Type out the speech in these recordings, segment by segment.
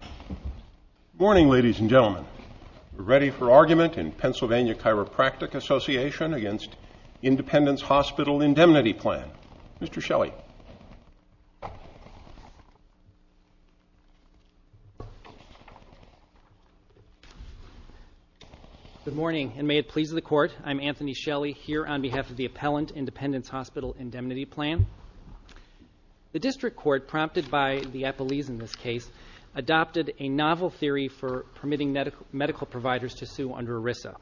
Good morning, ladies and gentlemen. We're ready for argument in Pennsylvania Chiropractic Association against Independence Hospital Indemnity Plan. Mr. Shelley. Good morning, and may it please the Court, I'm Anthony Shelley, here on behalf of the appellant, Independence Hospital Indemnity Plan. The District Court, prompted by the appellees in this case, adopted a novel theory for permitting medical providers to sue under ERISA.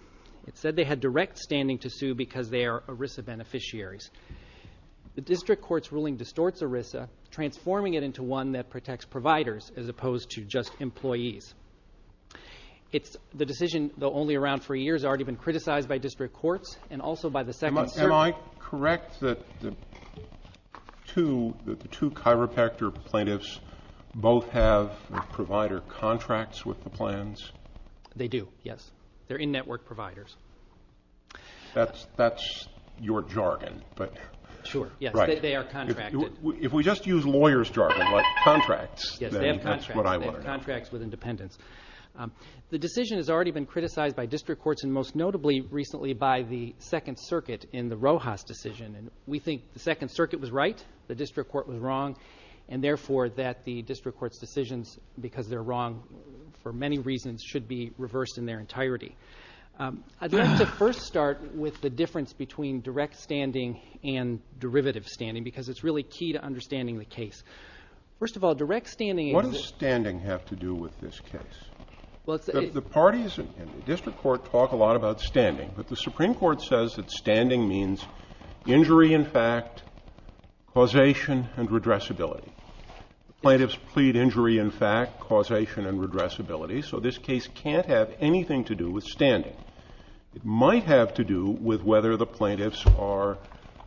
It said they had direct standing to sue because they are ERISA beneficiaries. The District Court's ruling distorts ERISA, transforming it into one that protects providers as opposed to just employees. The decision, though only around for a year, has already been criticized by District Courts and also by the Second Circuit. Am I correct that the two chiropractor plaintiffs both have provider contracts with the plans? They do, yes. They're in-network providers. That's your jargon, but... Sure, yes, they are contracted. If we just use lawyers' jargon, like contracts, then that's what I want to know. Yes, they have contracts. They have contracts with independents. The decision has already been criticized by District Courts and most notably recently by the Second Circuit in the Rojas decision. We think the Second Circuit was right, the District Court was wrong, and therefore that the District Court's decisions, because they're wrong for many reasons, should be reversed in their entirety. I'd like to first start with the difference between direct standing and derivative standing because it's really key to understanding the case. First of all, direct standing... What does standing have to do with this case? The parties in the District Court talk a lot about standing, but the Supreme Court says that standing means injury in fact, causation, and redressability. Plaintiffs plead injury in fact, causation, and redressability, so this case can't have anything to do with standing. It might have to do with whether the plaintiffs are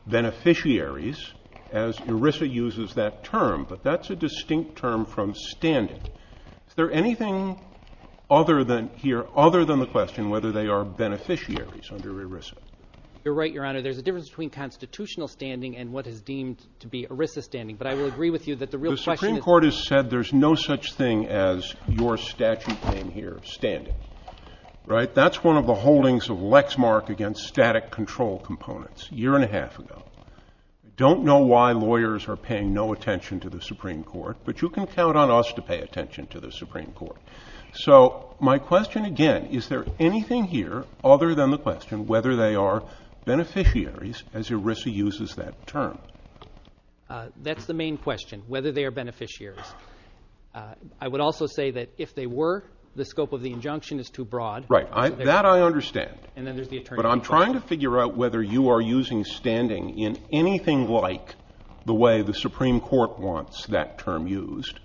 beneficiaries, as ERISA uses that term, but that's a distinct term from standing. Is there anything here other than the question whether they are beneficiaries under ERISA? You're right, Your Honor. There's a difference between constitutional standing and what is deemed to be ERISA standing, but I will agree with you that the real question is... The Supreme Court has said there's no such thing as your statute name here, standing, right? That's one of the holdings of Lexmark against static control components a year and a half ago. I don't know why lawyers are paying no attention to the Supreme Court, but you can count on us to pay attention to the Supreme Court. So my question again, is there anything here other than the question whether they are beneficiaries, as ERISA uses that term? That's the main question, whether they are beneficiaries. I would also say that if they were, the scope of the injunction is too broad. Right. That I understand, but I'm trying to figure out whether you are using standing in anything like the way the Supreme Court wants that term used,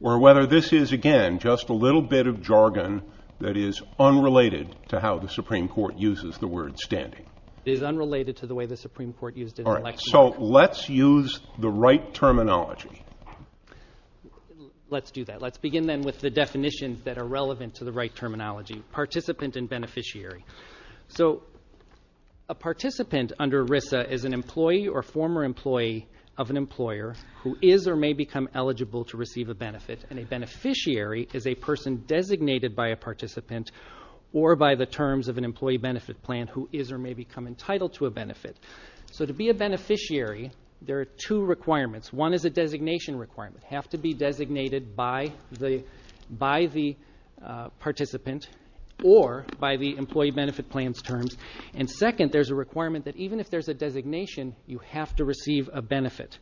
or whether this is, again, just a little bit of jargon that is unrelated to how the Supreme Court uses the word standing. It is unrelated to the way the Supreme Court used it in Lexmark. All right. So let's use the right terminology. Let's do that. Let's begin then with the definitions that are relevant to the right terminology, participant and beneficiary. So a participant under ERISA is an employee or former employee of an employer who is or may become eligible to receive a benefit, and a beneficiary is a person designated by a participant or by the terms of an employee benefit plan who is or may become entitled to a benefit. So to be a beneficiary, there are two requirements. One is a designation requirement. You have to be designated by the participant or by the employee benefit plan's terms. And second, there's a requirement that even if there's a designation, you have to receive a benefit.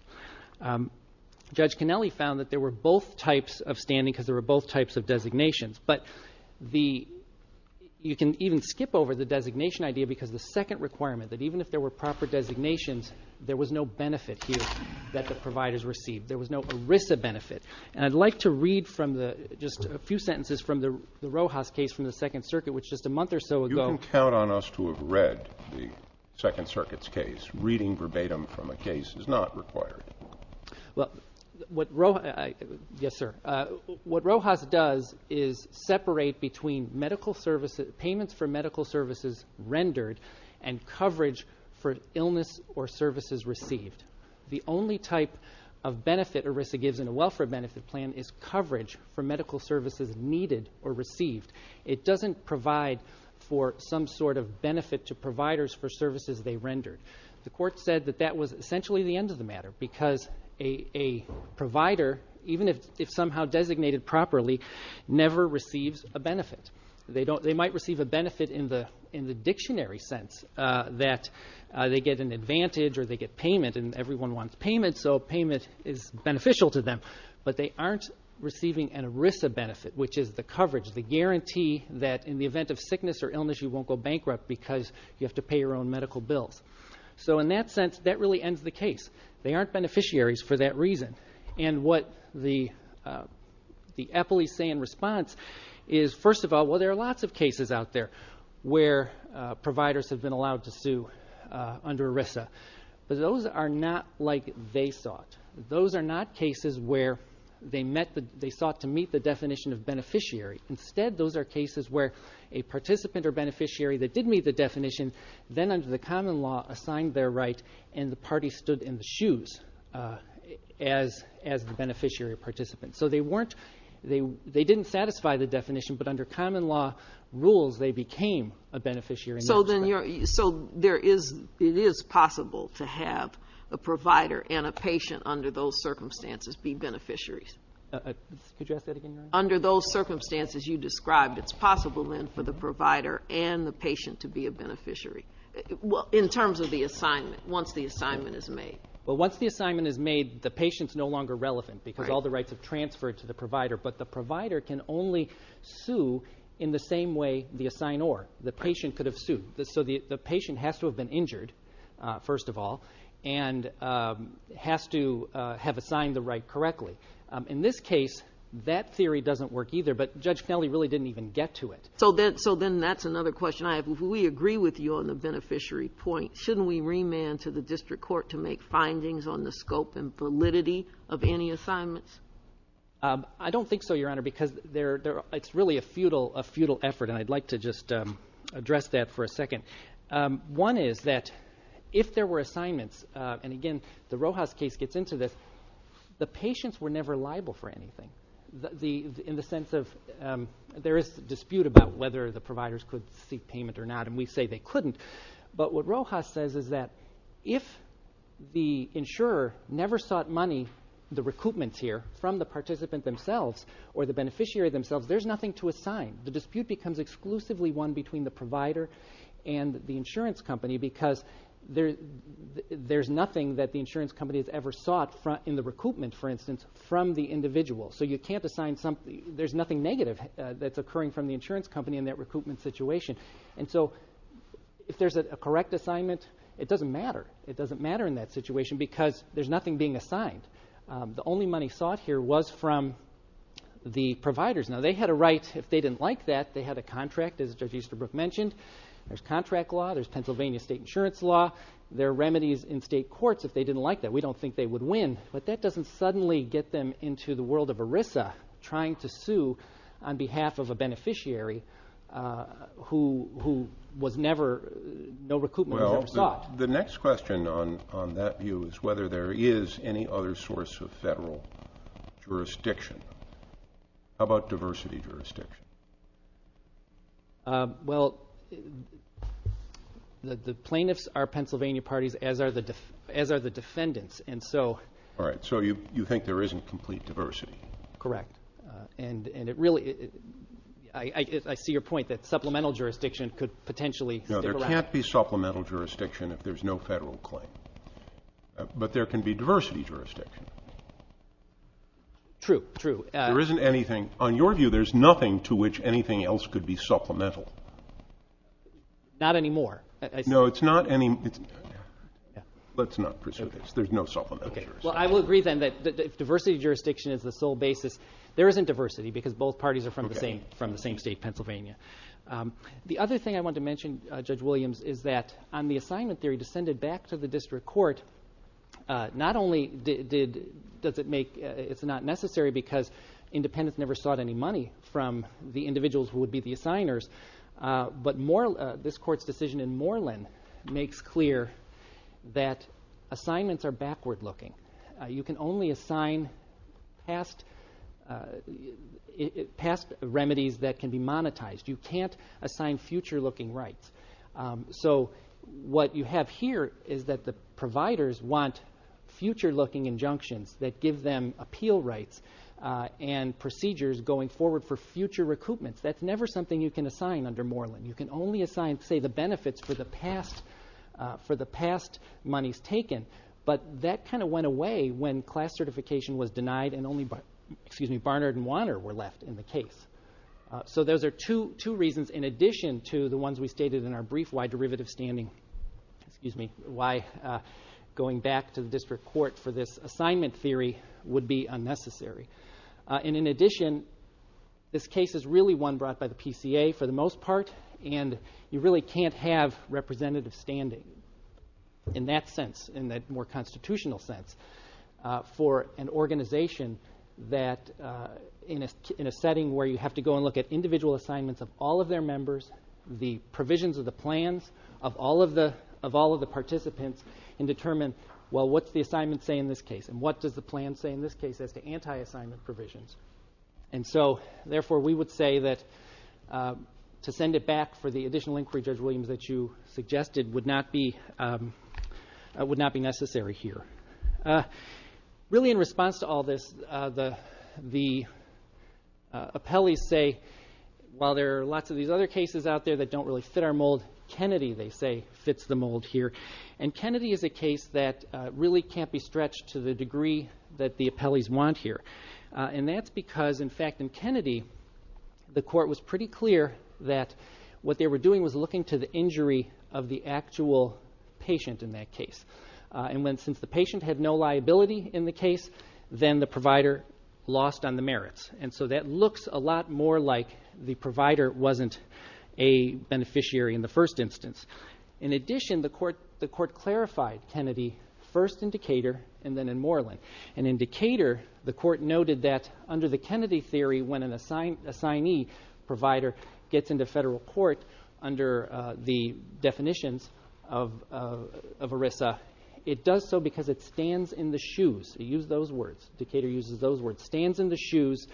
Judge Cannelli found that there were both types of standing because there were both types of designations. But you can even skip over the designation idea because the second requirement, that even if there were proper designations, there was no benefit here that the providers received. There was no ERISA benefit. And I'd like to read just a few sentences from the Rojas case from the Second Circuit, which just a month or so ago. You can count on us to have read the Second Circuit's case. Reading verbatim from a case is not required. Well, what Rojas does is separate between payments for medical services rendered and coverage for illness or services received. The only type of benefit ERISA gives in a welfare benefit plan is coverage for medical services needed or received. It doesn't provide for some sort of benefit to providers for services they rendered. The court said that that was essentially the end of the matter because a provider, even if somehow designated properly, never receives a benefit. They might receive a benefit in the dictionary sense that they get an advantage or they get payment and everyone wants payment, so payment is beneficial to them. But they aren't receiving an ERISA benefit, which is the coverage, the guarantee that in the event of sickness or illness you won't go bankrupt because you have to pay your own medical bills. So in that sense, that really ends the case. They aren't beneficiaries for that reason. And what the EPILES say in response is, first of all, well, there are lots of cases out there where providers have been allowed to sue under ERISA, but those are not like they sought. Those are not cases where they sought to meet the definition of beneficiary. Instead, those are cases where a participant or beneficiary that did meet the definition then under the common law assigned their right and the party stood in the shoes as the beneficiary participant. So they didn't satisfy the definition, but under common law rules they became a beneficiary in that respect. So it is possible to have a provider and a patient under those circumstances be beneficiaries? Could you ask that again? Under those circumstances you described, it's possible then for the provider and the patient to be a beneficiary in terms of the assignment, once the assignment is made? Well, once the assignment is made, the patient is no longer relevant because all the rights have transferred to the provider, but the provider can only sue in the same way the assignor, the patient, could have sued. So the patient has to have been injured, first of all, and has to have assigned the right correctly. In this case, that theory doesn't work either, but Judge Kennelly really didn't even get to it. So then that's another question I have. We agree with you on the beneficiary point. Shouldn't we remand to the district court to make findings on the scope and validity of any assignments? I don't think so, Your Honor, because it's really a futile effort, and I'd like to just address that for a second. One is that if there were assignments, and again, the Rojas case gets into this, the patients were never liable for anything, in the sense of there is dispute about whether the providers could seek payment or not, and we say they couldn't. But what Rojas says is that if the insurer never sought money, the recoupment here, from the participant themselves or the beneficiary themselves, there's nothing to assign. The dispute becomes exclusively one between the provider and the insurance company because there's nothing that the insurance company has ever sought in the recoupment, for instance, from the individual. So you can't assign something. There's nothing negative that's occurring from the insurance company in that recoupment situation. And so if there's a correct assignment, it doesn't matter. It doesn't matter in that situation because there's nothing being assigned. The only money sought here was from the providers. Now, they had a right. If they didn't like that, they had a contract, as Judge Easterbrook mentioned. There's contract law. There's Pennsylvania state insurance law. There are remedies in state courts if they didn't like that. We don't think they would win, but that doesn't suddenly get them into the world of ERISA, trying to sue on behalf of a beneficiary who was never, no recoupment was ever sought. The next question on that view is whether there is any other source of federal jurisdiction. How about diversity jurisdiction? Well, the plaintiffs are Pennsylvania parties, as are the defendants, and so... All right, so you think there isn't complete diversity. Correct, and it really... I see your point that supplemental jurisdiction could potentially... No, there can't be supplemental jurisdiction if there's no federal claim. But there can be diversity jurisdiction. True, true. There isn't anything... On your view, there's nothing to which anything else could be supplemental. Not anymore. No, it's not any... Let's not pursue this. There's no supplemental jurisdiction. Well, I will agree, then, that if diversity jurisdiction is the sole basis, there isn't diversity because both parties are from the same state, Pennsylvania. The other thing I want to mention, Judge Williams, is that on the assignment theory descended back to the district court, not only is it not necessary because independents never sought any money from the individuals who would be the assigners, but this court's decision in Moreland makes clear that assignments are backward-looking. You can only assign past remedies that can be monetized. You can't assign future-looking rights. So what you have here is that the providers want future-looking injunctions that give them appeal rights and procedures going forward for future recoupments. That's never something you can assign under Moreland. You can only assign, say, the benefits for the past monies taken. But that kind of went away when class certification was denied and only Barnard and Wanner were left in the case. So those are two reasons in addition to the ones we stated in our brief why going back to the district court for this assignment theory would be unnecessary. In addition, this case is really one brought by the PCA for the most part, and you really can't have representative standing in that sense, in that more constitutional sense, for an organization in a setting where you have to go and look at individual assignments of all of their members, the provisions of the plans of all of the participants, and determine, well, what's the assignment say in this case, and what does the plan say in this case as to anti-assignment provisions? And so, therefore, we would say that to send it back for the additional inquiry, Judge Williams, that you suggested would not be necessary here. Really in response to all this, the appellees say, while there are lots of these other cases out there that don't really fit our mold, Kennedy, they say, fits the mold here. And Kennedy is a case that really can't be stretched to the degree that the appellees want here. And that's because, in fact, in Kennedy, the court was pretty clear that what they were doing was looking to the injury of the actual patient in that case. And since the patient had no liability in the case, then the provider lost on the merits. And so that looks a lot more like the provider wasn't a beneficiary in the first instance. In addition, the court clarified Kennedy first in Decatur and then in Moreland. And in Decatur, the court noted that, under the Kennedy theory, when an assignee provider gets into federal court under the definitions of ERISA, it does so because it stands in the shoes. Use those words. Decatur uses those words. Stands in the shoes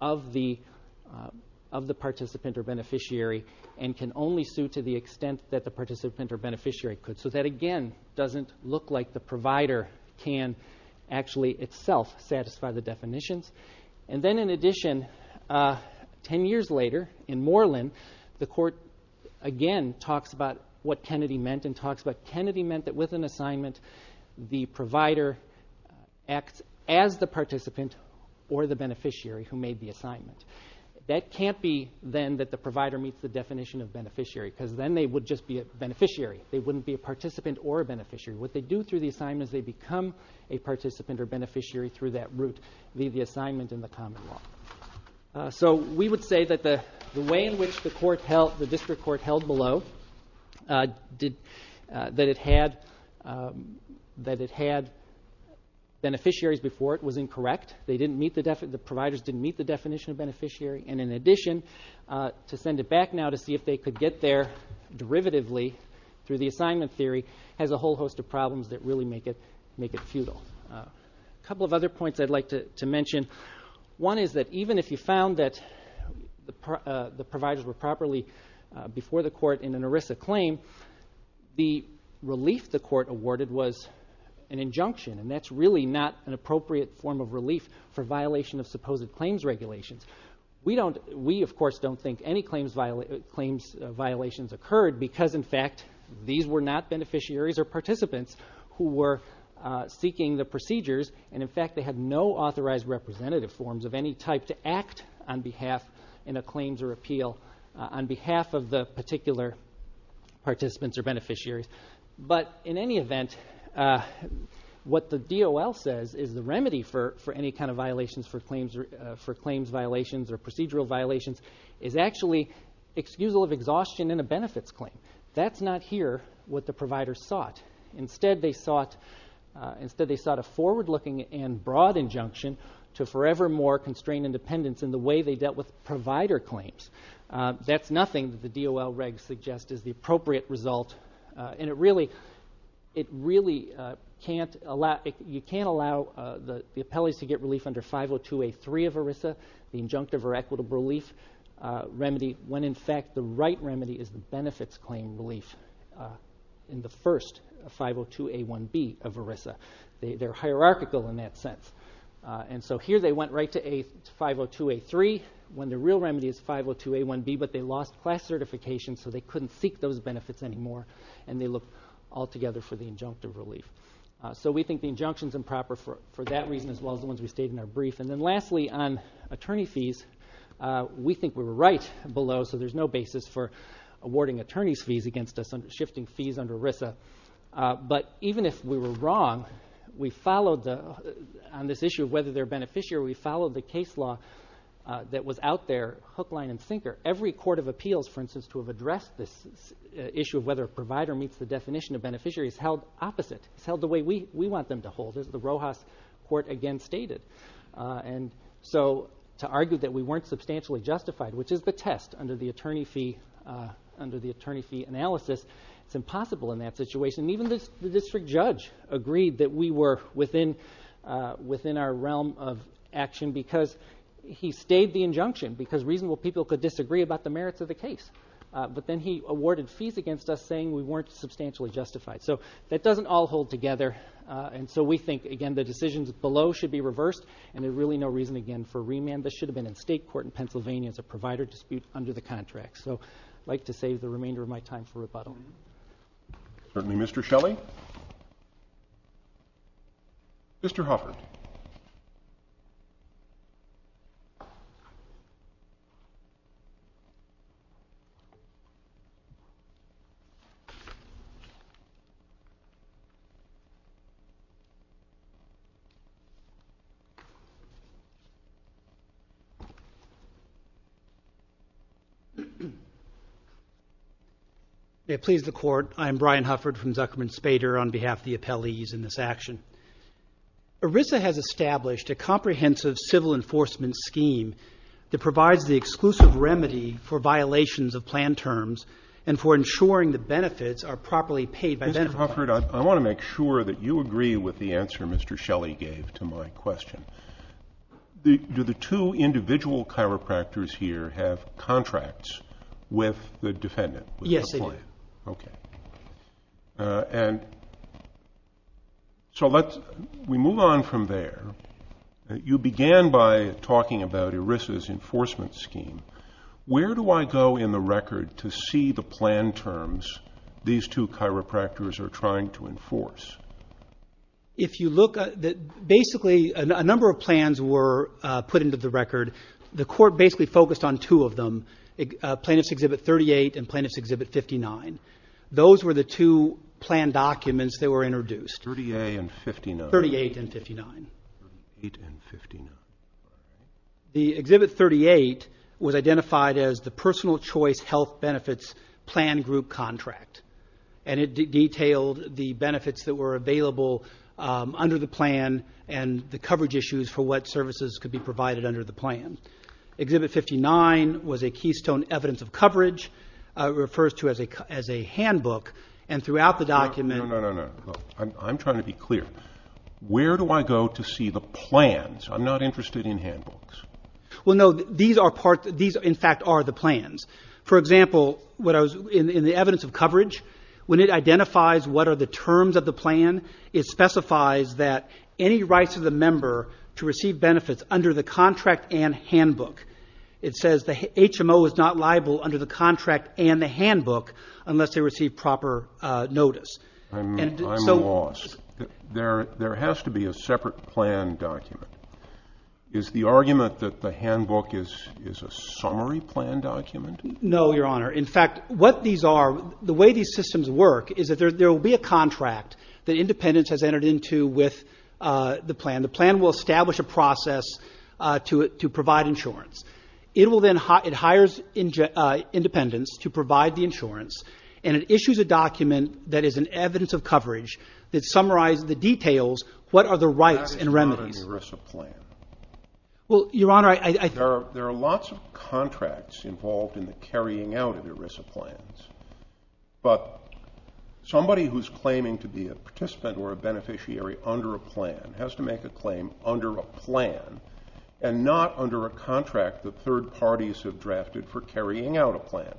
of the participant or beneficiary and can only sue to the extent that the participant or beneficiary could. So that, again, doesn't look like the provider can actually itself satisfy the definitions. And then, in addition, ten years later, in Moreland, the court again talks about what Kennedy meant and talks about Kennedy meant that, with an assignment, the provider acts as the participant or the beneficiary who made the assignment. That can't be, then, that the provider meets the definition of beneficiary because then they would just be a beneficiary. They wouldn't be a participant or a beneficiary. What they do through the assignment is they become a participant or beneficiary through that route, leave the assignment in the common law. So we would say that the way in which the district court held below, that it had beneficiaries before it was incorrect. The providers didn't meet the definition of beneficiary. And in addition, to send it back now to see if they could get there derivatively through the assignment theory, has a whole host of problems that really make it futile. A couple of other points I'd like to mention. One is that even if you found that the providers were properly before the court in an ERISA claim, the relief the court awarded was an injunction, and that's really not an appropriate form of relief for violation of supposed claims regulations. We, of course, don't think any claims violations occurred because, in fact, these were not beneficiaries or participants who were seeking the procedures, and, in fact, they had no authorized representative forms of any type to act on behalf in a claims or appeal on behalf of the particular participants or beneficiaries. But, in any event, what the DOL says is the remedy for any kind of violations for claims violations or procedural violations is actually excusal of exhaustion in a benefits claim. That's not here what the providers sought. Instead, they sought a forward-looking and broad injunction to forevermore constrain independence in the way they dealt with provider claims. That's nothing that the DOL regs suggest is the appropriate result, and you can't allow the appellees to get relief under 502A3 of ERISA, the injunctive or equitable relief remedy, when, in fact, the right remedy is the benefits claim relief in the first 502A1B of ERISA. They're hierarchical in that sense. So here they went right to 502A3 when the real remedy is 502A1B, but they lost class certification, so they couldn't seek those benefits anymore, and they look altogether for the injunctive relief. So we think the injunction is improper for that reason as well as the ones we stated in our brief. And then, lastly, on attorney fees, we think we were right below, so there's no basis for awarding attorneys' fees against us, shifting fees under ERISA. But even if we were wrong, on this issue of whether they're a beneficiary, we followed the case law that was out there, hook, line, and sinker. Every court of appeals, for instance, to have addressed this issue of whether a provider meets the definition of beneficiary is held opposite. It's held the way we want them to hold, as the Rojas court again stated. And so to argue that we weren't substantially justified, which is the test under the attorney fee analysis, it's impossible in that situation. And even the district judge agreed that we were within our realm of action because he stayed the injunction because reasonable people could disagree about the merits of the case. But then he awarded fees against us saying we weren't substantially justified. So that doesn't all hold together. And so we think, again, the decisions below should be reversed, and there's really no reason, again, for remand. This should have been in state court in Pennsylvania. It's a provider dispute under the contract. So I'd like to save the remainder of my time for rebuttal. Please, the Court. I am Brian Hufford from Zuckerman Spader on behalf of the appellees in this action. ERISA has established a comprehensive civil enforcement scheme that provides the exclusive remedy for violations of plan terms and for ensuring the benefits are properly paid by beneficiaries. Mr. Hufford, I want to make sure that you agree with the answer Mr. Shelley gave to my question. Do the two individual chiropractors here have contracts with the defendant? Yes, they do. Okay. And so let's move on from there. You began by talking about ERISA's enforcement scheme. Where do I go in the record to see the plan terms these two chiropractors are trying to enforce? If you look, basically a number of plans were put into the record. The Court basically focused on two of them, Plaintiff's Exhibit 38 and Plaintiff's Exhibit 59. Those were the two plan documents that were introduced. 38 and 59. 38 and 59. 38 and 59. The Exhibit 38 was identified as the Personal Choice Health Benefits Plan Group Contract. And it detailed the benefits that were available under the plan and the coverage issues for what services could be provided under the plan. Exhibit 59 was a Keystone Evidence of Coverage. It refers to as a handbook. And throughout the document. No, no, no, no. I'm trying to be clear. Where do I go to see the plans? I'm not interested in handbooks. Well, no, these in fact are the plans. For example, in the evidence of coverage, when it identifies what are the terms of the plan, it specifies that any rights of the member to receive benefits under the contract and handbook. It says the HMO is not liable under the contract and the handbook unless they receive proper notice. I'm lost. There has to be a separate plan document. Is the argument that the handbook is a summary plan document? No, Your Honor. In fact, what these are, the way these systems work is that there will be a contract that Independence has entered into with the plan. The plan will establish a process to provide insurance. It will then hire Independence to provide the insurance. And it issues a document that is an evidence of coverage that summarizes the details, what are the rights and remedies. What about an ERISA plan? Well, Your Honor, I think. There are lots of contracts involved in the carrying out of ERISA plans. But somebody who's claiming to be a participant or a beneficiary under a plan has to make a claim under a plan and not under a contract that third parties have drafted for carrying out a plan.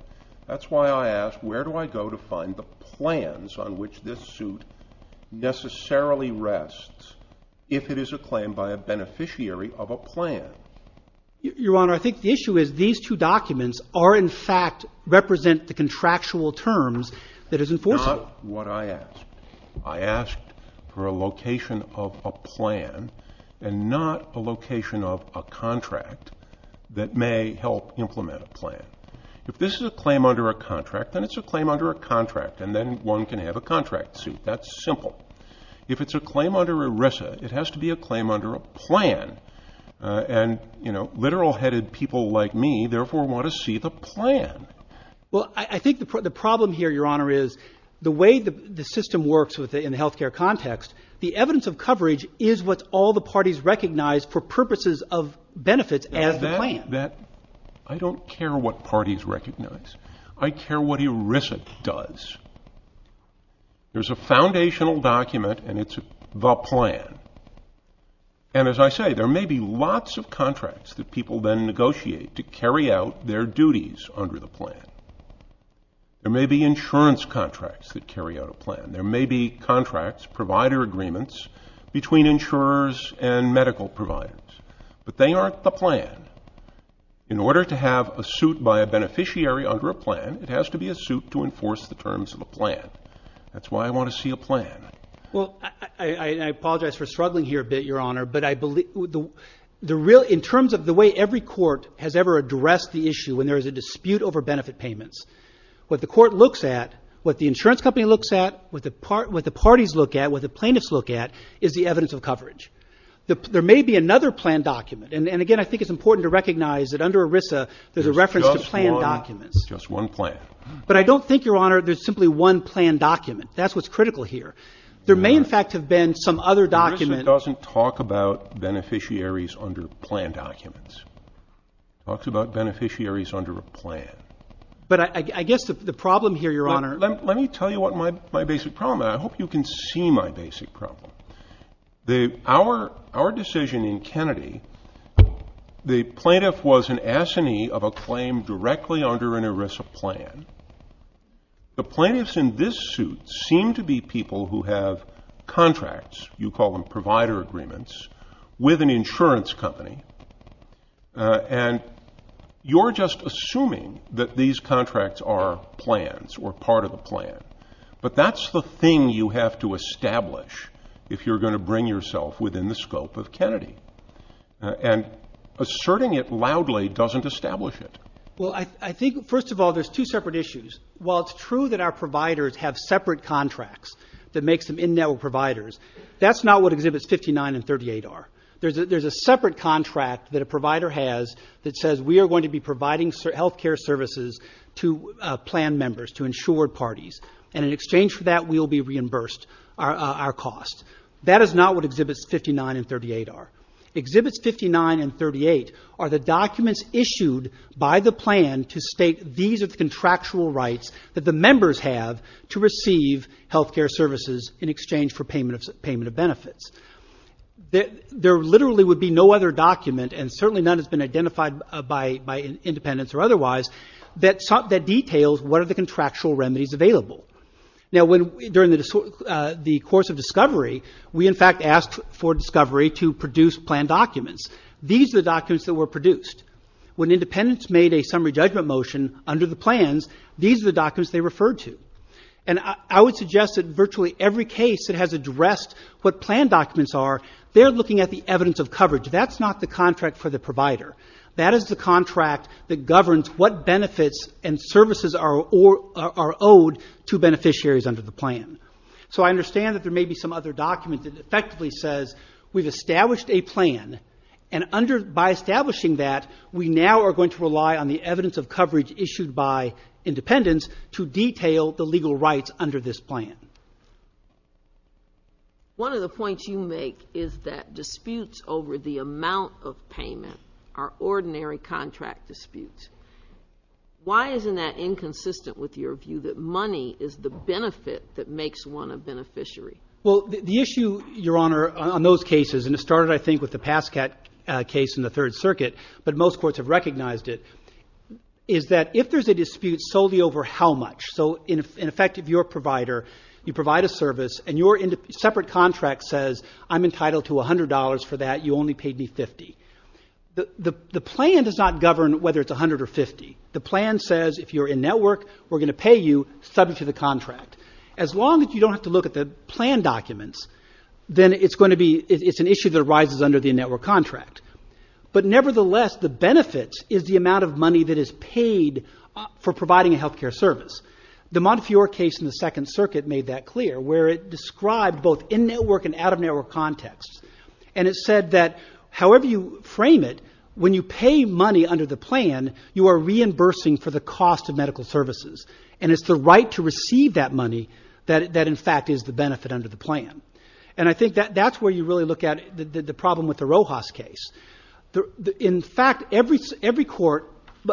That's why I ask, where do I go to find the plans on which this suit necessarily rests if it is a claim by a beneficiary of a plan? Your Honor, I think the issue is these two documents are in fact represent the contractual terms that is enforced. Not what I asked. I asked for a location of a plan and not a location of a contract that may help implement a plan. If this is a claim under a contract, then it's a claim under a contract. And then one can have a contract suit. That's simple. If it's a claim under ERISA, it has to be a claim under a plan. And, you know, literal-headed people like me, therefore, want to see the plan. Well, I think the problem here, Your Honor, is the way the system works in the health care context, the evidence of coverage is what all the parties recognize for purposes of benefits as the plan. I don't care what parties recognize. I care what ERISA does. There's a foundational document, and it's the plan. And as I say, there may be lots of contracts that people then negotiate to carry out their duties under the plan. There may be insurance contracts that carry out a plan. There may be contracts, provider agreements, between insurers and medical providers. But they aren't the plan. In order to have a suit by a beneficiary under a plan, it has to be a suit to enforce the terms of a plan. That's why I want to see a plan. Well, I apologize for struggling here a bit, Your Honor. But in terms of the way every court has ever addressed the issue when there is a dispute over benefit payments, what the court looks at, what the insurance company looks at, what the parties look at, what the plaintiffs look at is the evidence of coverage. There may be another plan document. And, again, I think it's important to recognize that under ERISA there's a reference to plan documents. Just one plan. But I don't think, Your Honor, there's simply one plan document. That's what's critical here. There may, in fact, have been some other document. ERISA doesn't talk about beneficiaries under plan documents. It talks about beneficiaries under a plan. But I guess the problem here, Your Honor. Let me tell you what my basic problem is. I hope you can see my basic problem. Our decision in Kennedy, the plaintiff was an assinee of a claim directly under an ERISA plan. The plaintiffs in this suit seem to be people who have contracts. You call them provider agreements with an insurance company. And you're just assuming that these contracts are plans or part of the plan. But that's the thing you have to establish if you're going to bring yourself within the scope of Kennedy. And asserting it loudly doesn't establish it. Well, I think, first of all, there's two separate issues. While it's true that our providers have separate contracts that make them in-network providers, that's not what Exhibits 59 and 38 are. There's a separate contract that a provider has that says we are going to be providing health care services to plan members, to insured parties. And in exchange for that, we will be reimbursed our cost. That is not what Exhibits 59 and 38 are. Exhibits 59 and 38 are the documents issued by the plan to state these are the contractual rights that the members have to receive health care services in exchange for payment of benefits. There literally would be no other document, and certainly none has been identified by independents or otherwise, that details what are the contractual remedies available. Now, during the course of discovery, we, in fact, asked for discovery to produce plan documents. These are the documents that were produced. When independents made a summary judgment motion under the plans, these are the documents they referred to. And I would suggest that virtually every case that has addressed what plan documents are, they're looking at the evidence of coverage. That's not the contract for the provider. That is the contract that governs what benefits and services are owed to beneficiaries under the plan. So I understand that there may be some other document that effectively says we've established a plan, and by establishing that, we now are going to rely on the evidence of coverage issued by independents to detail the legal rights under this plan. One of the points you make is that disputes over the amount of payment are ordinary contract disputes. Why isn't that inconsistent with your view that money is the benefit that makes one a beneficiary? Well, the issue, Your Honor, on those cases, and it started, I think, with the Pascat case in the Third Circuit, but most courts have recognized it, is that if there's a dispute solely over how much, so in effect, if you're a provider, you provide a service and your separate contract says I'm entitled to $100 for that, you only paid me $50. The plan does not govern whether it's $100 or $50. The plan says if you're in network, we're going to pay you subject to the contract. As long as you don't have to look at the plan documents, then it's an issue that arises under the in-network contract. But nevertheless, the benefit is the amount of money that is paid for providing a health care service. The Montefiore case in the Second Circuit made that clear, where it described both in-network and out-of-network contexts, and it said that however you frame it, when you pay money under the plan, you are reimbursing for the cost of medical services, and it's the right to receive that money that in fact is the benefit under the plan. And I think that's where you really look at the problem with the Rojas case. In fact, every court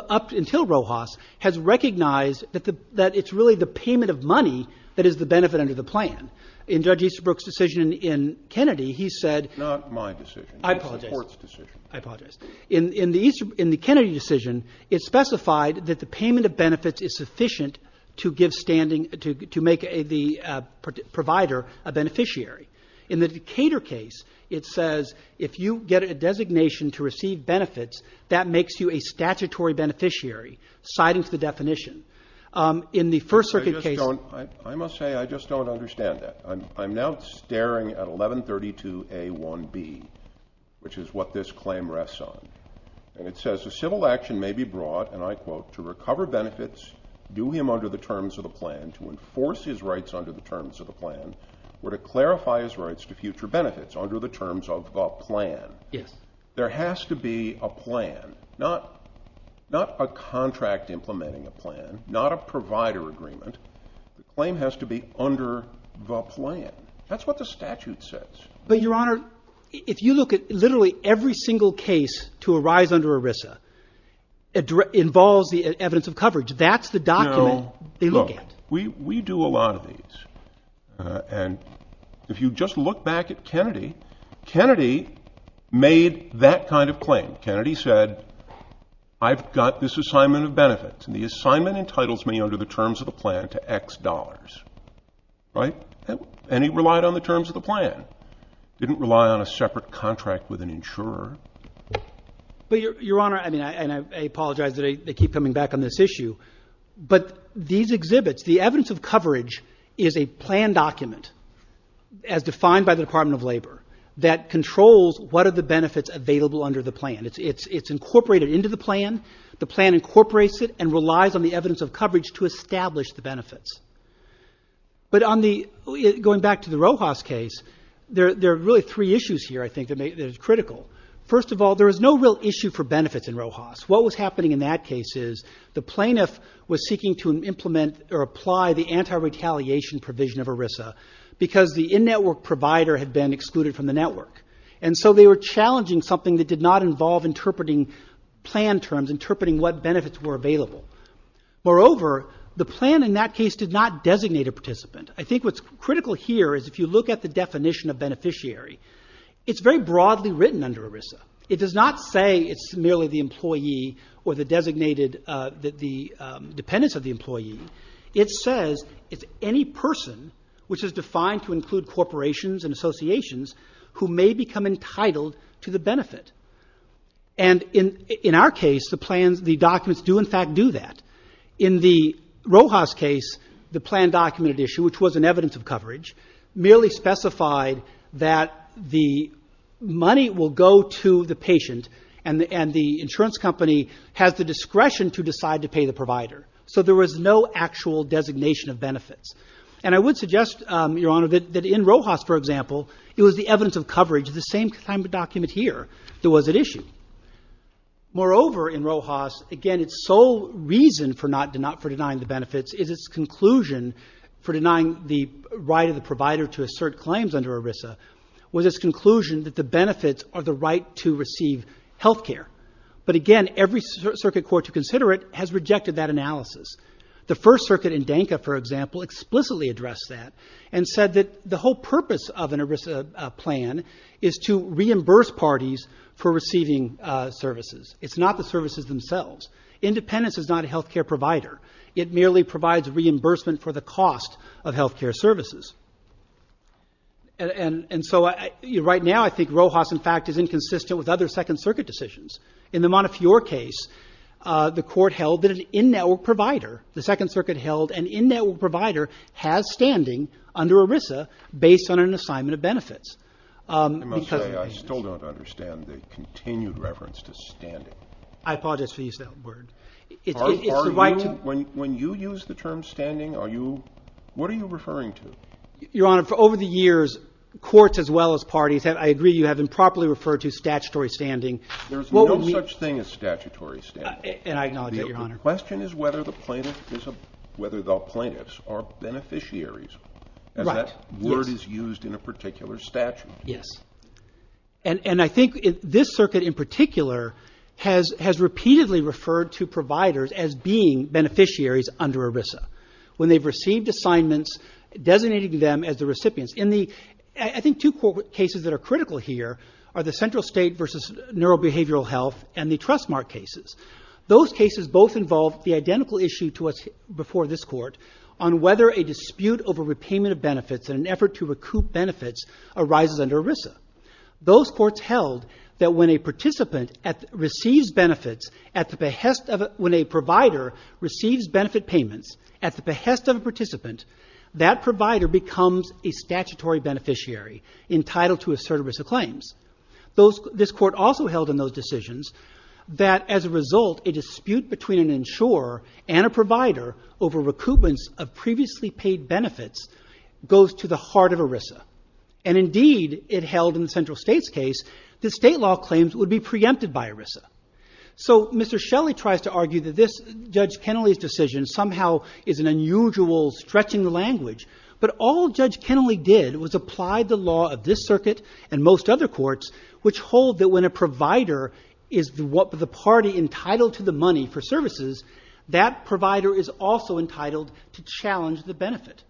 up until Rojas has recognized that it's really the payment of money that is the benefit under the plan. In Judge Easterbrook's decision in Kennedy, he said – Not my decision. I apologize. It was the court's decision. I apologize. In the Kennedy decision, it specified that the payment of benefits is sufficient to give standing – to make the provider a beneficiary. In the Decatur case, it says if you get a designation to receive benefits, that makes you a statutory beneficiary, citing the definition. In the First Circuit case – I just don't – I must say I just don't understand that. I'm now staring at 1132A1B, which is what this claim rests on. And it says a civil action may be brought, and I quote, to recover benefits, do him under the terms of the plan, to enforce his rights under the terms of the plan, or to clarify his rights to future benefits under the terms of the plan. Yes. There has to be a plan. Not a contract implementing a plan. Not a provider agreement. The claim has to be under the plan. That's what the statute says. But, Your Honor, if you look at literally every single case to arise under ERISA, it involves the evidence of coverage. That's the document they look at. Look, we do a lot of these. Kennedy said, I've got this assignment of benefits, and the assignment entitles me under the terms of the plan to X dollars. Right? And he relied on the terms of the plan. Didn't rely on a separate contract with an insurer. But, Your Honor, I mean, and I apologize that they keep coming back on this issue, but these exhibits, the evidence of coverage is a plan document, as defined by the Department of Labor, that controls what are the benefits available under the plan. It's incorporated into the plan. The plan incorporates it and relies on the evidence of coverage to establish the benefits. But going back to the Rojas case, there are really three issues here, I think, that are critical. First of all, there is no real issue for benefits in Rojas. What was happening in that case is the plaintiff was seeking to apply the anti-retaliation provision of ERISA because the in-network provider had been excluded from the network. And so they were challenging something that did not involve interpreting plan terms, interpreting what benefits were available. Moreover, the plan in that case did not designate a participant. I think what's critical here is if you look at the definition of beneficiary, it's very broadly written under ERISA. It does not say it's merely the employee or the designated, the dependence of the employee. It says it's any person which is defined to include corporations and associations who may become entitled to the benefit. And in our case, the plans, the documents do in fact do that. In the Rojas case, the plan documented issue, which was an evidence of coverage, merely specified that the money will go to the patient and the insurance company has the discretion to decide to pay the provider. So there was no actual designation of benefits. And I would suggest, Your Honor, that in Rojas, for example, it was the evidence of coverage, the same kind of document here, that was at issue. Moreover, in Rojas, again, its sole reason for not denying the benefits is its conclusion for denying the right of the provider to assert claims under ERISA, was its conclusion that the benefits are the right to receive health care. But again, every circuit court to consider it has rejected that analysis. The First Circuit in Danka, for example, explicitly addressed that and said that the whole purpose of an ERISA plan is to reimburse parties for receiving services. It's not the services themselves. Independence is not a health care provider. It merely provides reimbursement for the cost of health care services. And so right now, I think Rojas, in fact, is inconsistent with other Second Circuit decisions. In the Montefiore case, the Court held that an in-network provider, the Second Circuit held an in-network provider has standing under ERISA based on an assignment of benefits. Because of this. I must say, I still don't understand the continued reference to standing. I apologize for using that word. It's the right to — When you use the term standing, what are you referring to? Your Honor, over the years, courts as well as parties, I agree you have improperly referred to statutory standing. There's no such thing as statutory standing. And I acknowledge that, Your Honor. The question is whether the plaintiffs are beneficiaries. Right. That word is used in a particular statute. Yes. And I think this circuit in particular has repeatedly referred to providers as being beneficiaries under ERISA. When they've received assignments, designating them as the recipients. I think two cases that are critical here are the central state versus neurobehavioral health and the trust mark cases. Those cases both involve the identical issue to what's before this Court on whether a dispute over repayment of benefits in an effort to recoup benefits arises under ERISA. Those courts held that when a participant receives benefits at the behest of — when a provider receives benefit payments at the behest of a participant, that provider becomes a statutory beneficiary entitled to assert ERISA claims. This Court also held in those decisions that as a result, a dispute between an insurer and a provider over recoupments of previously paid benefits goes to the heart of ERISA. And indeed, it held in the central state's case that state law claims would be preempted by ERISA. So Mr. Shelley tries to argue that this — Judge Kennelly's decision somehow is an unusual stretching language, but all Judge Kennelly did was apply the law of this circuit and most other courts, which hold that when a provider is what the party entitled to the money for services, that provider is also entitled to challenge the benefit.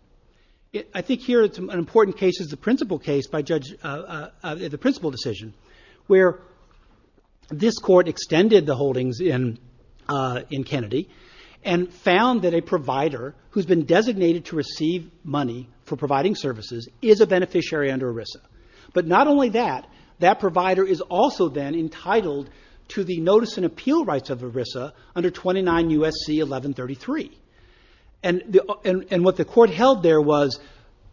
I think here an important case is the principal case by Judge — the principal decision, where this Court extended the holdings in Kennedy and found that a provider who's been designated to receive money for providing services is a beneficiary under ERISA. But not only that, that provider is also then entitled to the notice and appeal rights of ERISA under 29 U.S.C. 1133. And what the Court held there was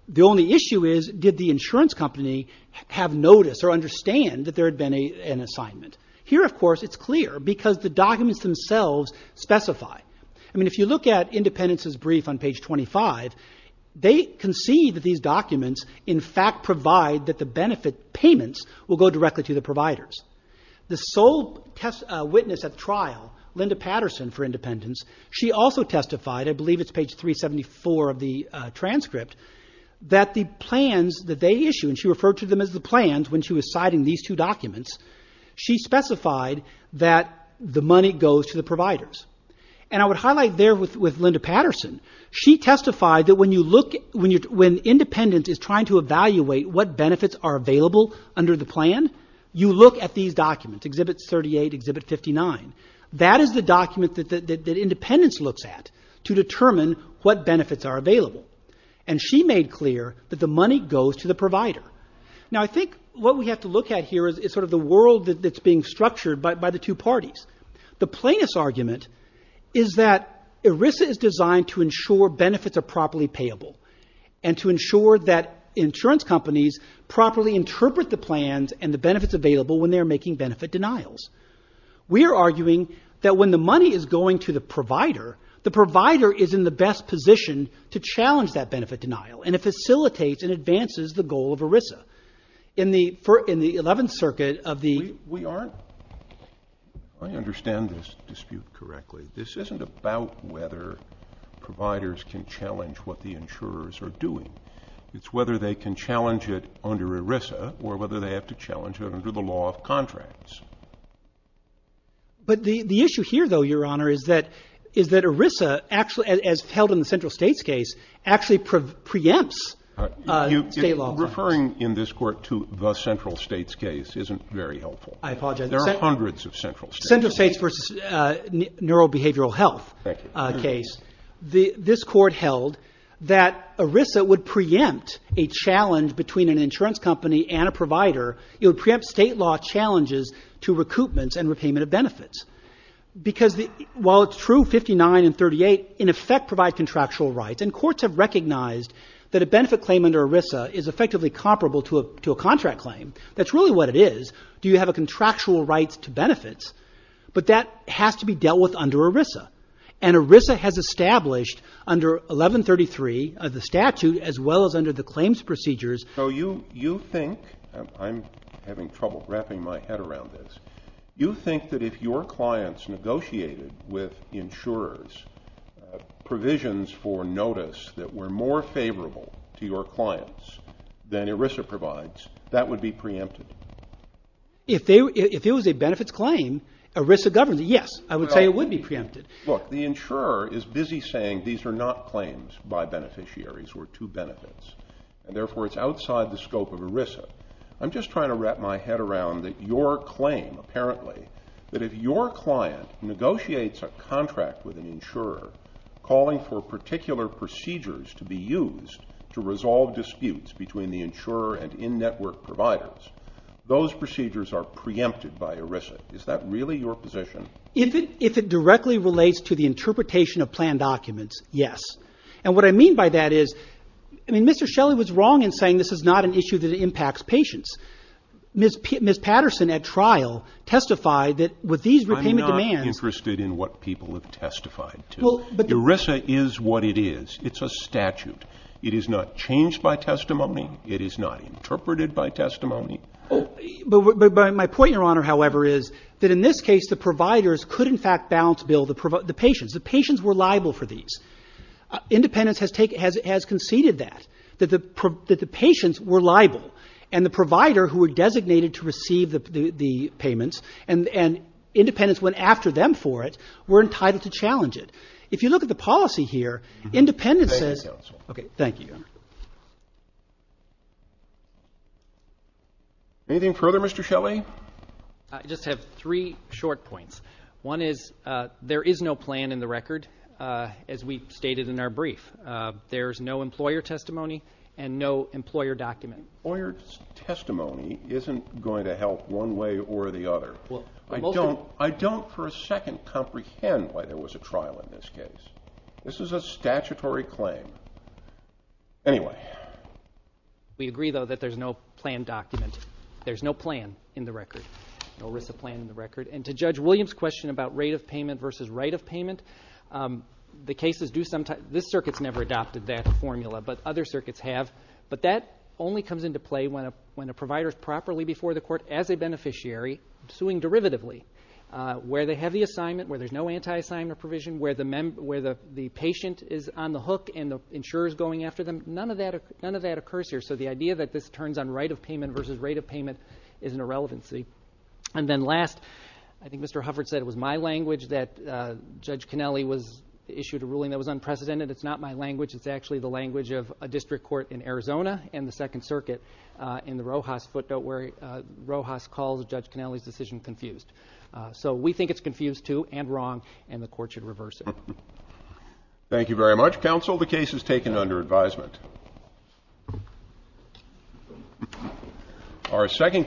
the only issue is did the insurance company have notice or understand that there had been an assignment. Here, of course, it's clear because the documents themselves specify. I mean, if you look at Independence's brief on page 25, they concede that these documents, in fact, provide that the benefit payments will go directly to the providers. The sole witness at trial, Linda Patterson for Independence, she also testified — I believe it's page 374 of the transcript — that the plans that they issue, and she referred to them as the plans when she was citing these two documents, she specified that the money goes to the providers. And I would highlight there with Linda Patterson, she testified that when you look — when Independence is trying to evaluate what benefits are available under the plan, you look at these documents, Exhibit 38, Exhibit 59. That is the document that Independence looks at to determine what benefits are available. And she made clear that the money goes to the provider. Now, I think what we have to look at here is sort of the world that's being structured by the two parties. The plaintiff's argument is that ERISA is designed to ensure benefits are properly payable and to ensure that insurance companies properly interpret the plans and the benefits available when they're making benefit denials. We are arguing that when the money is going to the provider, the provider is in the best position to challenge that benefit denial, and it facilitates and advances the goal of ERISA. In the 11th Circuit of the — We aren't. I understand this dispute correctly. This isn't about whether providers can challenge what the insurers are doing. It's whether they can challenge it under ERISA or whether they have to challenge it under the law of contracts. But the issue here, though, Your Honor, is that ERISA, as held in the central states case, actually preempts state law. Referring in this court to the central states case isn't very helpful. I apologize. There are hundreds of central states. In the central states versus neurobehavioral health case, this court held that ERISA would preempt a challenge between an insurance company and a provider. It would preempt state law challenges to recoupments and repayment of benefits. Because while it's true 59 and 38 in effect provide contractual rights, and courts have recognized that a benefit claim under ERISA is effectively comparable to a contract claim, that's really what it is. Do you have a contractual right to benefits? But that has to be dealt with under ERISA. And ERISA has established under 1133 of the statute as well as under the claims procedures. So you think, I'm having trouble wrapping my head around this, you think that if your clients negotiated with insurers provisions for notice that were more favorable to your clients than ERISA provides, that would be preempted? If it was a benefits claim, ERISA governs it. Yes, I would say it would be preempted. Look, the insurer is busy saying these are not claims by beneficiaries or to benefits, and therefore it's outside the scope of ERISA. I'm just trying to wrap my head around that your claim, apparently, that if your client negotiates a contract with an insurer calling for particular procedures to be used to resolve disputes between the insurer and in-network providers, those procedures are preempted by ERISA. Is that really your position? If it directly relates to the interpretation of planned documents, yes. And what I mean by that is, I mean, Mr. Shelley was wrong in saying this is not an issue that impacts patients. Ms. Patterson at trial testified that with these repayment demands. I'm not interested in what people have testified to. ERISA is what it is. It's a statute. It is not changed by testimony. It is not interpreted by testimony. But my point, Your Honor, however, is that in this case the providers could in fact balance bill the patients. The patients were liable for these. Independence has conceded that, that the patients were liable, and the provider who were designated to receive the payments, and Independence went after them for it, were entitled to challenge it. If you look at the policy here, Independence says. Thank you, Your Honor. Anything further, Mr. Shelley? I just have three short points. One is there is no plan in the record, as we stated in our brief. There is no employer testimony and no employer document. Employer testimony isn't going to help one way or the other. I don't for a second comprehend why there was a trial in this case. This is a statutory claim. Anyway. We agree, though, that there's no plan document. There's no plan in the record. No ERISA plan in the record. And to Judge Williams' question about rate of payment versus right of payment, the cases do sometimes. This circuit's never adopted that formula, but other circuits have. But that only comes into play when a provider is properly before the court as a beneficiary, suing derivatively, where they have the assignment, where there's no anti-assignment provision, where the patient is on the hook and the insurer's going after them. None of that occurs here. So the idea that this turns on right of payment versus rate of payment is an irrelevancy. And then last, I think Mr. Hufford said it was my language that Judge Cannelli issued a ruling that was unprecedented. It's not my language. It's actually the language of a district court in Arizona and the Second Circuit in the Rojas footnote where Rojas calls Judge Cannelli's decision confused. So we think it's confused, too, and wrong, and the court should reverse it. Thank you very much, counsel. The case is taken under advisement.